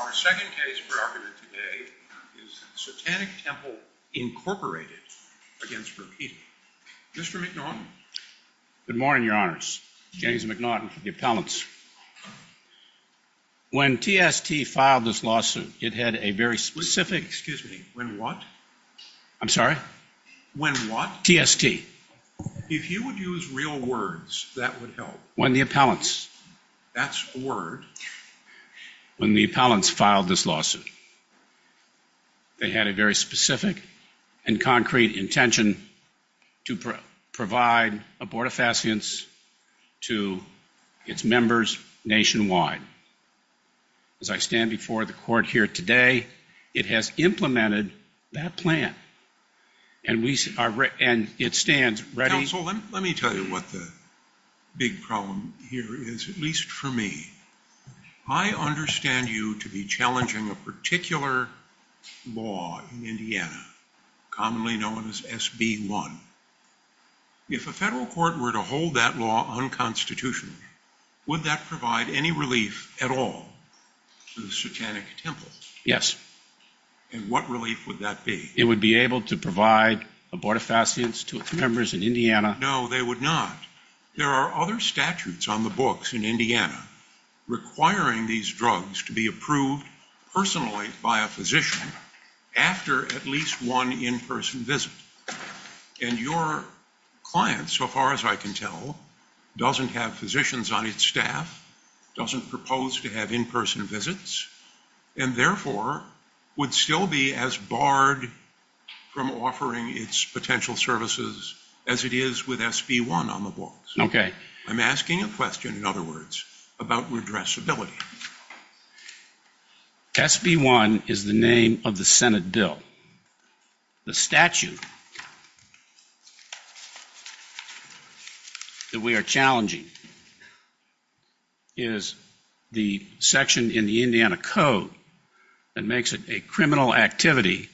Our second case for argument today is Satanic Temple, Inc. v. Rokita. Mr. McNaughton? Good morning, Your Honors. James McNaughton for the appellants. When TST filed this lawsuit, it had a very specific... Excuse me, when what? I'm sorry? When what? TST. If you would use real words, that would help. When the appellants... That's a word. When the appellants filed this lawsuit, they had a very specific and concrete intention to provide abortifacients to its members nationwide. As I stand before the court here today, it has implemented that plan. And it stands ready... The big problem here is, at least for me, I understand you to be challenging a particular law in Indiana, commonly known as SB1. If a federal court were to hold that law unconstitutional, would that provide any relief at all to the Satanic Temple? Yes. And what relief would that be? It would be able to provide abortifacients to its members in Indiana. No, they would not. There are other statutes on the books in Indiana requiring these drugs to be approved personally by a physician after at least one in-person visit. And your client, so far as I can tell, doesn't have physicians on its staff, doesn't propose to have in-person visits, and therefore would still be as barred from offering its potential services as it is with SB1 on the books. I'm asking a question, in other words, about redressability. SB1 is the name of the Senate bill. The statute that we are challenging is the section in the Indiana Code that makes it a criminal activity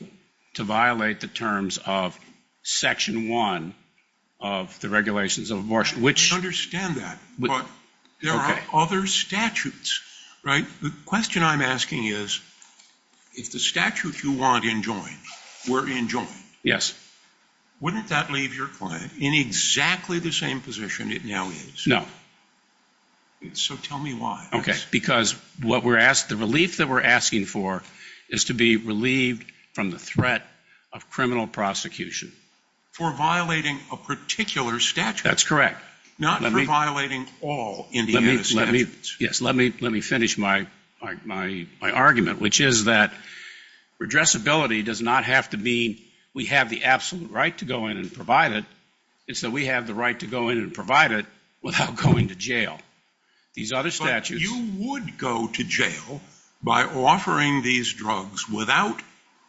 to violate the terms of Section 1 of the Regulations of Abortion. I understand that, but there are other statutes, right? The question I'm asking is if the statute you want enjoined were enjoined, wouldn't that leave your client in exactly the same position it now is? No. So tell me why. Okay, because the relief that we're asking for is to be relieved from the threat of criminal prosecution. For violating a particular statute. That's correct. Not for violating all Indiana statutes. Yes, let me finish my argument, which is that redressability does not have to mean we have the absolute right to go in and provide it. It's that we have the right to go in and provide it without going to jail. But you would go to jail by offering these drugs without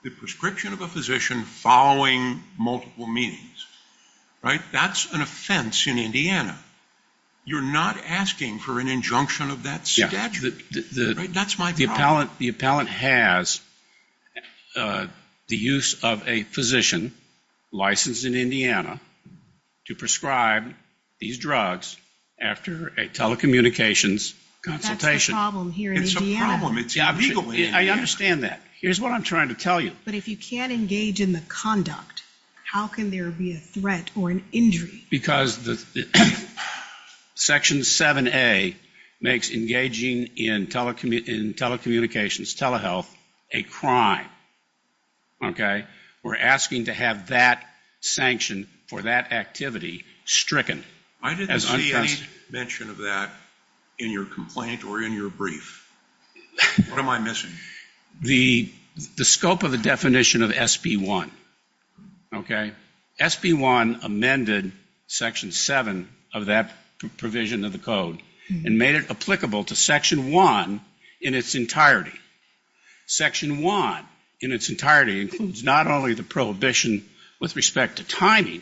the prescription of a physician following multiple meetings, right? That's an offense in Indiana. You're not asking for an injunction of that statute. That's my problem. The appellant has the use of a physician licensed in Indiana to prescribe these drugs after a telecommunications consultation. But that's the problem here in Indiana. I understand that. Here's what I'm trying to tell you. But if you can't engage in the conduct, how can there be a threat or an injury? Because Section 7A makes engaging in telecommunications, telehealth, a crime, okay? We're asking to have that sanction for that activity stricken. I didn't see any mention of that in your complaint or in your brief. What am I missing? The scope of the definition of SB1, okay? SB1 amended Section 7 of that provision of the code and made it applicable to Section 1 in its entirety. Section 1 in its entirety includes not only the prohibition with respect to timing,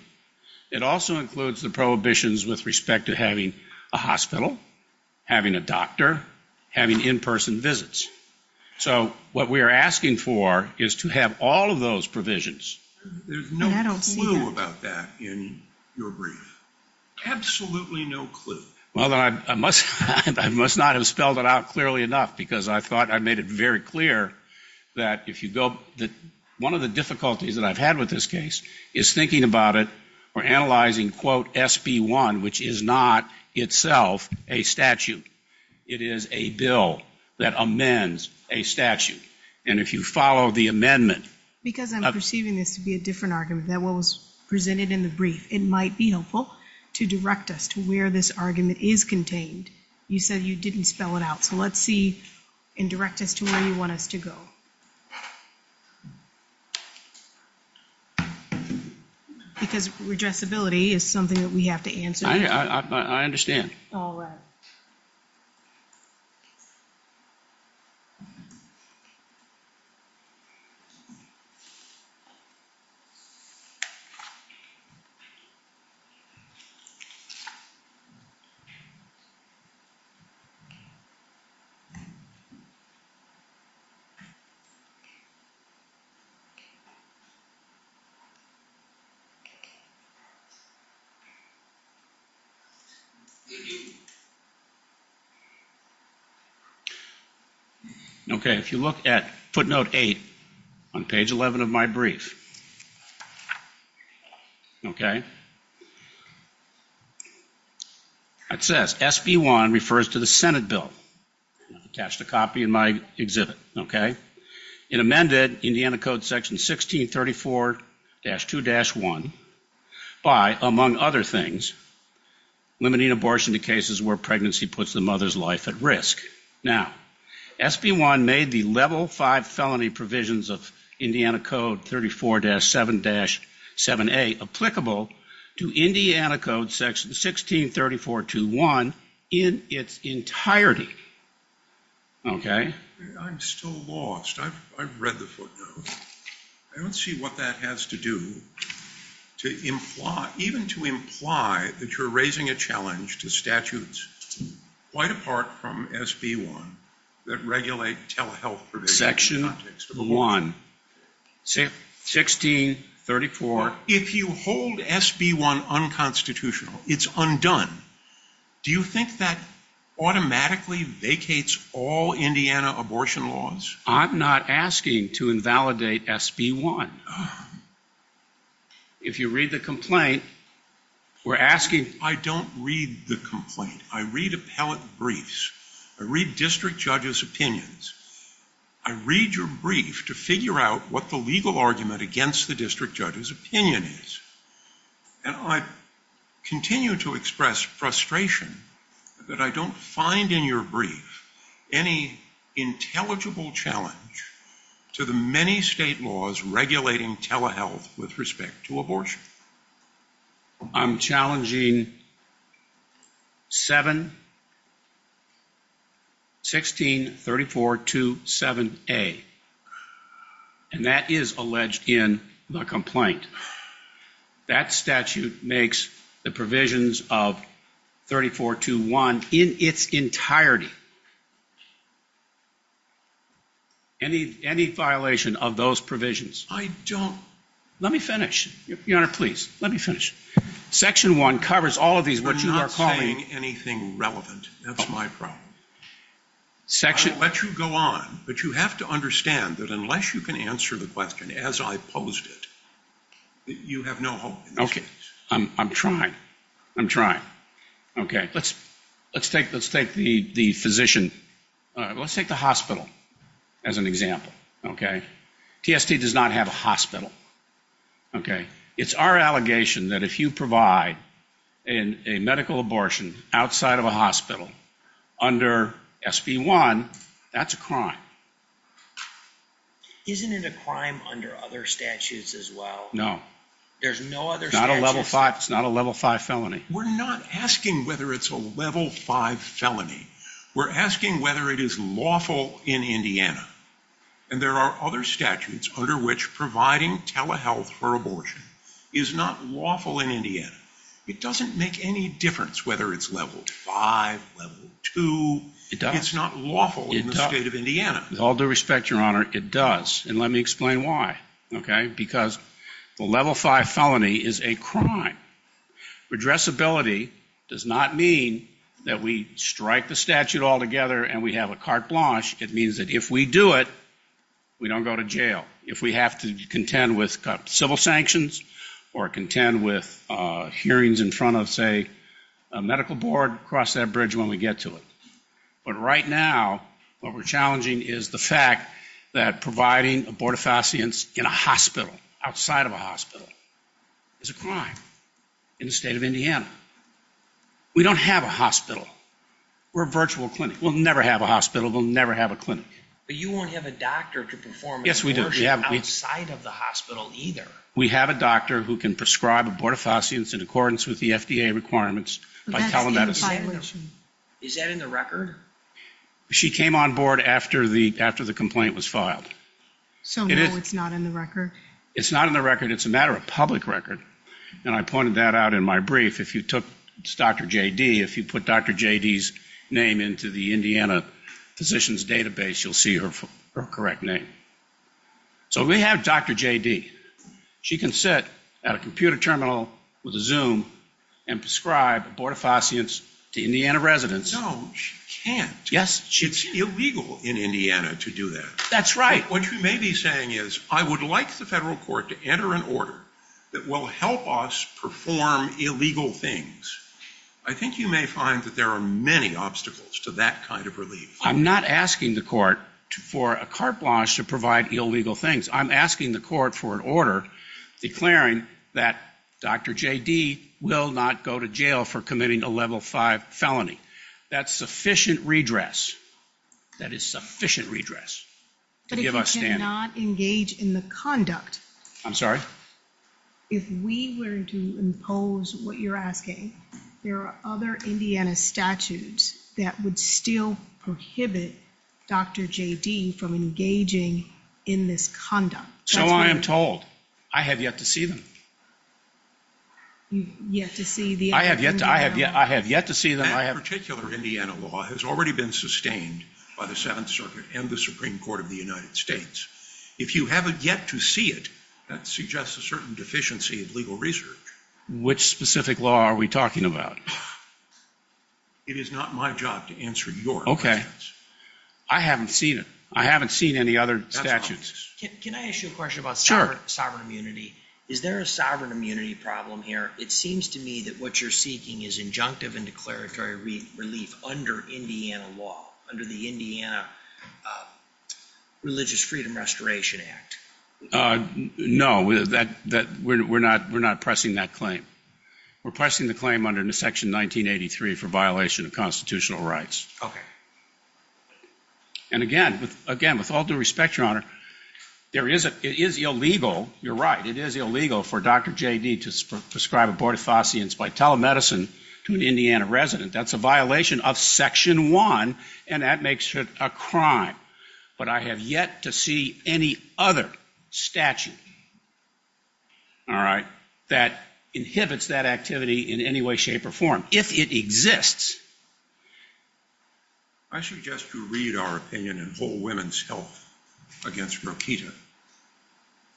it also includes the prohibitions with respect to having a hospital, having a doctor, having in-person visits. So what we are asking for is to have all of those provisions. There's no clue about that in your brief. Absolutely no clue. Well, then I must not have spelled it out clearly enough because I thought I made it very clear that if you go, one of the difficulties that I've had with this case is thinking about it or analyzing, quote, SB1, which is not itself a statute. It is a bill that amends a statute. And if you follow the amendment. Because I'm perceiving this to be a different argument than what was presented in the brief, it might be helpful to direct us to where this argument is contained. You said you didn't spell it out. So let's see and direct us to where you want us to go. Because redressability is something that we have to answer. I understand. All right. Okay. If you look at footnote 8 on page 11 of my brief, okay, it says SB1 refers to the Senate bill. I've attached a copy in my exhibit, okay. It amended Indiana Code section 1634-2-1 by, among other things, limiting abortion to cases where pregnancy puts the mother's life at risk. Now, SB1 made the level 5 felony provisions of Indiana Code 34-7-7A applicable to Indiana Code section 1634-2-1 in its entirety, okay. I'm still lost. I've read the footnote. I don't see what that has to do to even to imply that you're raising a challenge to statutes quite apart from SB1 that regulate telehealth provisions in the context of abortion. Section 1, 1634. If you hold SB1 unconstitutional, it's undone. Do you think that automatically vacates all Indiana abortion laws? I'm not asking to invalidate SB1. If you read the complaint, we're asking. I don't read the complaint. I read appellate briefs. I read district judges' opinions. I read your brief to figure out what the legal argument against the district judge's opinion is. And I continue to express frustration that I don't find in your brief any intelligible challenge to the many state laws regulating telehealth with respect to abortion. I'm challenging 7, 1634-2-7A. And that is alleged in the complaint. That statute makes the provisions of 34-2-1 in its entirety. Any violation of those provisions? I don't. Let me finish. Your Honor, please, let me finish. Section 1 covers all of these. I'm not saying anything relevant. That's my problem. I'll let you go on, but you have to understand that unless you can answer the question as I posed it, you have no hope. I'm trying. I'm trying. Okay. Let's take the physician. Let's take the hospital as an example. Okay. TST does not have a hospital. Okay. It's our allegation that if you provide a medical abortion outside of a provider, SB1, that's a crime. Isn't it a crime under other statutes as well? No. There's no other statutes? It's not a level 5 felony. We're not asking whether it's a level 5 felony. We're asking whether it is lawful in Indiana. And there are other statutes under which providing telehealth for abortion is not lawful in Indiana. It doesn't make any difference whether it's level 5, level 2. It's not lawful in the state of Indiana. With all due respect, Your Honor, it does. And let me explain why. Because the level 5 felony is a crime. Redressability does not mean that we strike the statute altogether and we have a carte blanche. It means that if we do it, we don't go to jail. If we have to contend with civil sanctions or contend with hearings in front of, say, a medical board, cross that bridge when we get to it. But right now what we're challenging is the fact that providing abortifacients in a hospital, outside of a hospital, is a crime in the state of Indiana. We don't have a hospital. We're a virtual clinic. We'll never have a hospital. We'll never have a clinic. But you won't have a doctor to perform abortion outside of the hospital either. We have a doctor who can prescribe abortifacients in accordance with the FDA requirements by telemedicine. Is that in the record? She came on board after the complaint was filed. So no, it's not in the record? It's not in the record. It's a matter of public record. And I pointed that out in my brief. It's Dr. J.D. If you put Dr. J.D.'s name into the Indiana Physicians Database, you'll see her correct name. So we have Dr. J.D. She can sit at a computer terminal with a Zoom and prescribe abortifacients to Indiana residents. No, she can't. Yes, she can. It's illegal in Indiana to do that. That's right. What you may be saying is I would like the federal court to enter an order that will help us perform illegal things. I think you may find that there are many obstacles to that kind of relief. I'm not asking the court for a carte blanche to provide illegal things. I'm asking the court for an order declaring that Dr. J.D. will not go to jail for committing a Level V felony. That's sufficient redress. That is sufficient redress to give us standing. But if you cannot engage in the conduct. I'm sorry? If we were to impose what you're asking, there are other Indiana statutes that would still prohibit Dr. J.D. from engaging in this conduct. So I am told. I have yet to see them. You've yet to see the Indiana law? I have yet to see them. That particular Indiana law has already been sustained by the Seventh Circuit and the Supreme Court of the United States. If you haven't yet to see it, that suggests a certain deficiency of legal research. Which specific law are we talking about? It is not my job to answer your questions. Okay. I haven't seen it. I haven't seen any other statutes. Can I ask you a question about sovereign immunity? Is there a sovereign immunity problem here? It seems to me that what you're seeking is injunctive and declaratory relief under Indiana law, under the Indiana Religious Freedom Restoration Act. No. We're not pressing that claim. We're pressing the claim under Section 1983 for violation of constitutional rights. Okay. And again, with all due respect, Your Honor, it is illegal, you're right, it is illegal for Dr. J.D. to prescribe abortifacients by telemedicine to an Indiana resident. That's a violation of Section 1, and that makes it a crime. But I have yet to see any other statute, all right, that inhibits that activity in any way, shape, or form, if it exists. I suggest you read our opinion in Whole Women's Health against Rokita,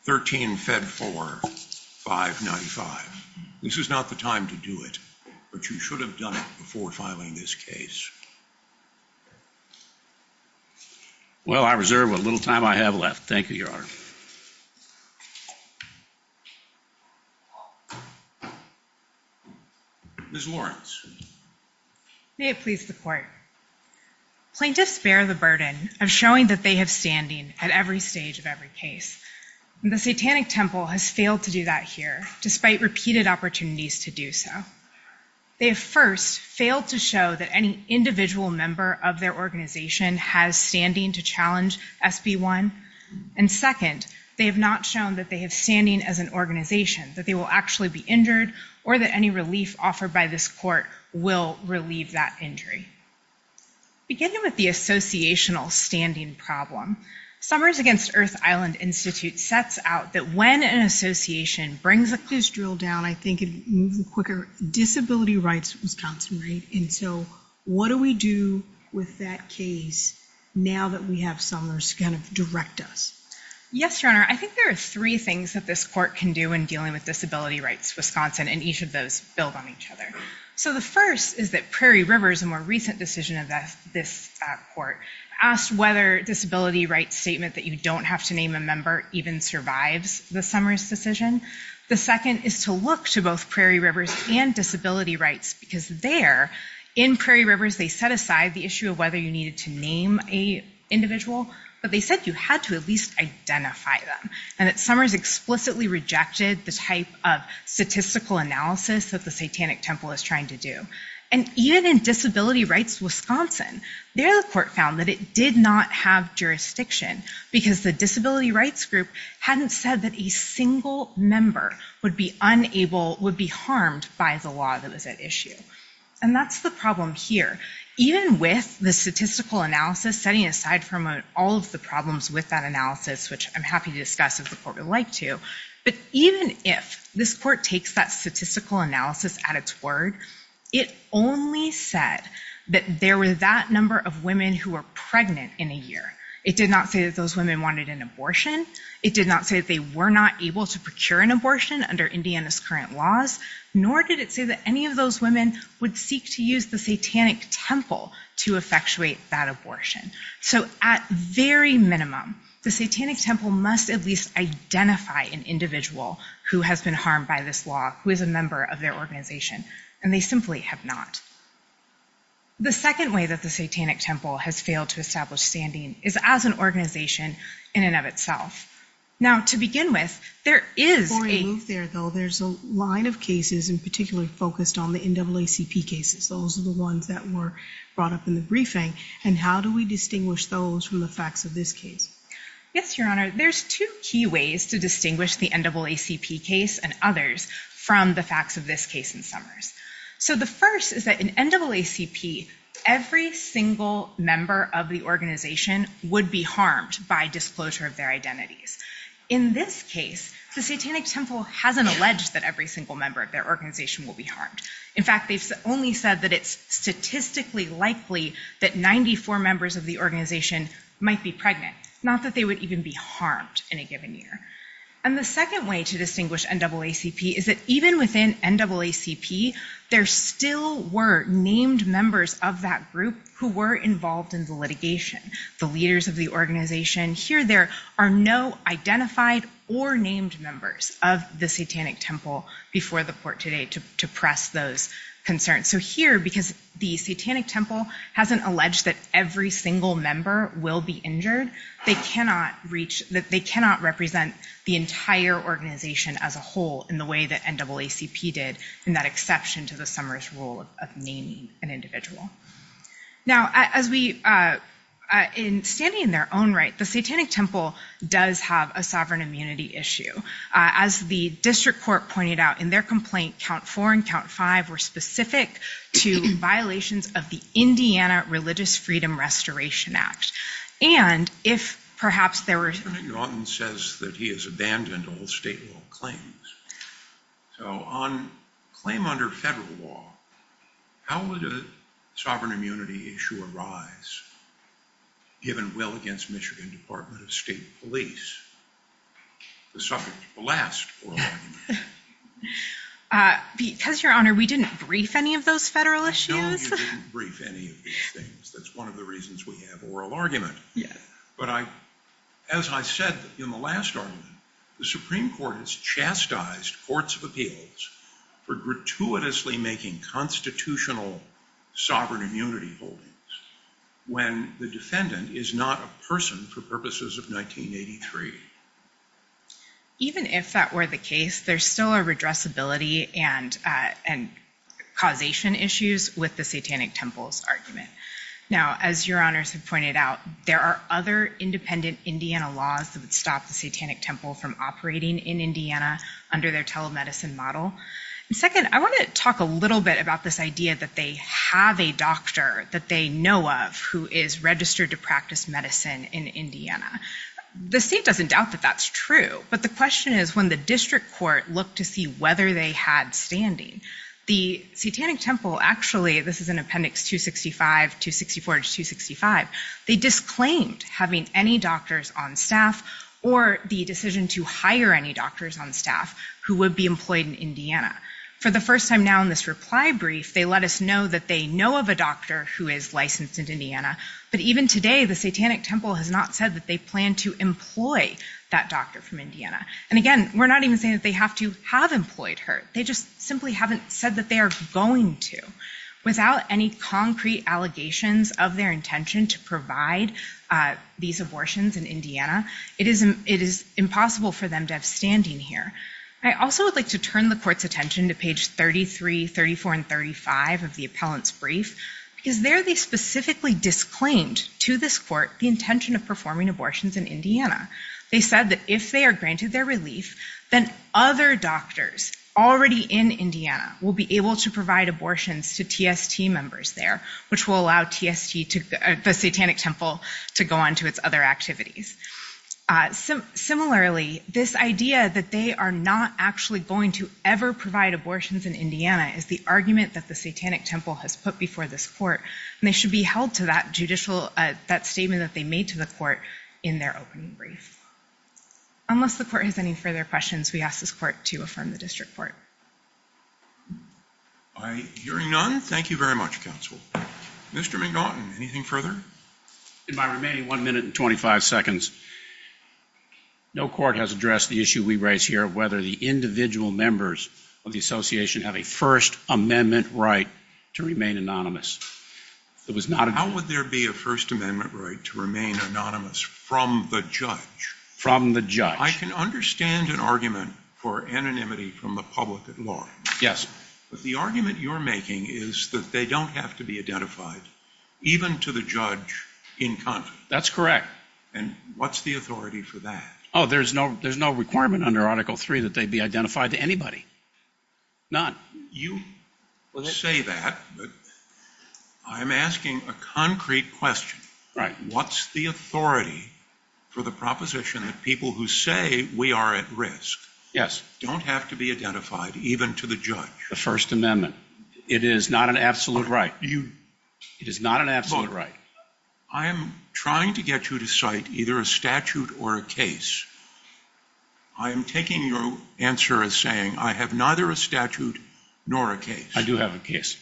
13 Fed 4, 595. This is not the time to do it, but you should have done it before filing this case. Well, I reserve what little time I have left. Thank you, Your Honor. Ms. Lawrence. May it please the Court. Plaintiffs bear the burden of showing that they have standing at every stage of every case, and the Satanic Temple has failed to do that here, despite repeated opportunities to do so. They have first failed to show that any individual member of their organization has standing to challenge SB 1, and second, they have not shown that they have standing as an organization, that they will actually be injured, or that any relief offered by this Court will relieve that injury. Beginning with the associational standing problem, Summers Against Earth Island Institute sets out that when an association brings up this drill down, I think it moves quicker, disability rights Wisconsin, right? And so what do we do with that case now that we have Summers kind of direct us? Yes, Your Honor. I think there are three things that this Court can do when dealing with disability rights Wisconsin, and each of those build on each other. So the first is that Prairie River, a more recent decision of this Court, asked whether disability rights statement that you don't have to name a member even survives the Summers decision. The second is to look to both Prairie Rivers and disability rights, because there, in Prairie Rivers, they set aside the issue of whether you needed to name an individual, but they said you had to at least identify them, and that Summers explicitly rejected the type of statistical analysis that the Satanic Temple is trying to do. And even in disability rights Wisconsin, there the Court found that it did not have jurisdiction because the disability rights group hadn't said that a single member would be unable, would be harmed by the law that was at issue. And that's the problem here. Even with the statistical analysis, setting aside from all of the problems with that analysis, which I'm happy to discuss if the Court would like to, but even if this Court takes that statistical analysis at its word, it only said that there were that number of women who were pregnant in a year. It did not say that those women wanted an abortion. It did not say that they were not able to procure an abortion under Indiana's current laws, nor did it say that any of those women would seek to use the Satanic Temple to effectuate that abortion. So at very minimum, the Satanic Temple must at least identify an individual who has been harmed by this law, who is a member of their organization, and they simply have not. The second way that the Satanic Temple has failed to establish standing is as an organization in and of itself. Now, to begin with, there is a... Before I move there, though, there's a line of cases in particular focused on the NAACP cases. Those are the ones that were brought up in the briefing. And how do we distinguish those from the facts of this case? Yes, Your Honor, there's two key ways to distinguish the NAACP case and others from the facts of this case in Summers. So the first is that in NAACP, every single member of the organization would be harmed by disclosure of their identities. In this case, the Satanic Temple hasn't alleged that every single member of their organization will be harmed. In fact, they've only said that it's statistically likely that 94 members of the organization might be pregnant, not that they would even be harmed in a given year. And the second way to distinguish NAACP is that even within NAACP, there still were named members of that group who were involved in the litigation, the leaders of the organization. Here there are no identified or named members of the Satanic Temple before the court today to press those concerns. So here, because the Satanic Temple hasn't alleged that every single member will be injured, they cannot represent the entire organization as a whole in the way that NAACP did in that exception to the Summers rule of naming an individual. Now, as we, in standing in their own right, the Satanic Temple does have a sovereign immunity issue. As the district court pointed out in their complaint, count four and count five were specific to violations of the Indiana Religious Freedom Restoration Act. And if perhaps there were- Senator Yawton says that he has abandoned all state law claims. So on claim under federal law, how would a sovereign immunity issue arise given well against Michigan Department of State Police, the subject of the last oral argument? Because, Your Honor, we didn't brief any of those federal issues. No, you didn't brief any of these things. That's one of the reasons we have oral argument. But as I said in the last argument, the Supreme Court has chastised courts of appeals for gratuitously making constitutional sovereign immunity holdings when the defendant is not a person for purposes of 1983. Even if that were the case, there's still a redressability and causation issues with the Satanic Temple's argument. Now, as Your Honors have pointed out, there are other independent Indiana laws that would stop the Satanic Temple from operating in Indiana under their telemedicine model. And second, I want to talk a little bit about this idea that they have a doctor that they know of who is registered to practice medicine in Indiana. The state doesn't doubt that that's true, but the question is when the district court looked to see whether they had standing, the Satanic Temple actually, this is in Appendix 265, 264 to 265, they disclaimed having any doctors on staff or the decision to hire any doctors on staff who would be employed in Indiana. For the first time now in this reply brief, they let us know that they know of a doctor who is licensed in Indiana, but even today, the Satanic Temple has not said that they plan to employ that doctor from Indiana. And again, we're not even saying that they have to have employed her. They just simply haven't said that they are going to. Without any concrete allegations of their intention to provide these abortions in Indiana, it is impossible for them to have standing here. I also would like to turn the court's attention to page 33, 34, and 35 of the appellant's brief because there they specifically disclaimed to this court the intention of performing abortions in Indiana. They said that if they are granted their relief, then other doctors already in Indiana will be able to provide abortions to TST members there, which will allow the Satanic Temple to go on to its other activities. Similarly, this idea that they are not actually going to ever provide abortions in Indiana is the argument that the Satanic Temple has put before this court, and they should be held to that judicial, that statement that they made to the court in their opening brief. Unless the court has any further questions, we ask this court to affirm the district court. All right, hearing none, thank you very much, counsel. Mr. McNaughton, anything further? In my remaining one minute and 25 seconds, no court has addressed the issue we raise here of whether the individual members of the association have a First Amendment right to remain anonymous. How would there be a First Amendment right to remain anonymous from the judge? From the judge. I can understand an argument for anonymity from the public at large. Yes. But the argument you're making is that they don't have to be identified, even to the judge in conflict. That's correct. And what's the authority for that? Oh, there's no requirement under Article III that they be identified to anybody. None. You say that, but I'm asking a concrete question. Right. What's the authority for the proposition that people who say we are at risk don't have to be identified, even to the judge? The First Amendment. It is not an absolute right. It is not an absolute right. Look, I am trying to get you to cite either a statute or a case. I am taking your answer as saying I have neither a statute nor a case. I do have a case.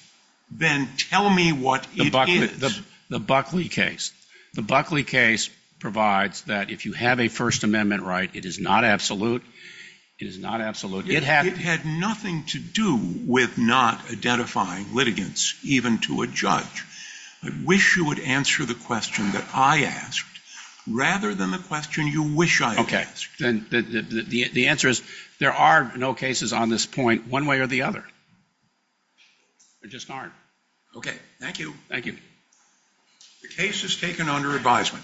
Then tell me what it is. The Buckley case. The Buckley case provides that if you have a First Amendment right, it is not absolute. It had nothing to do with not identifying litigants, even to a judge. I wish you would answer the question that I asked rather than the question you wish I had asked. The answer is there are no cases on this point one way or the other. There just aren't. Okay. Thank you. Thank you. The case is taken under advisement.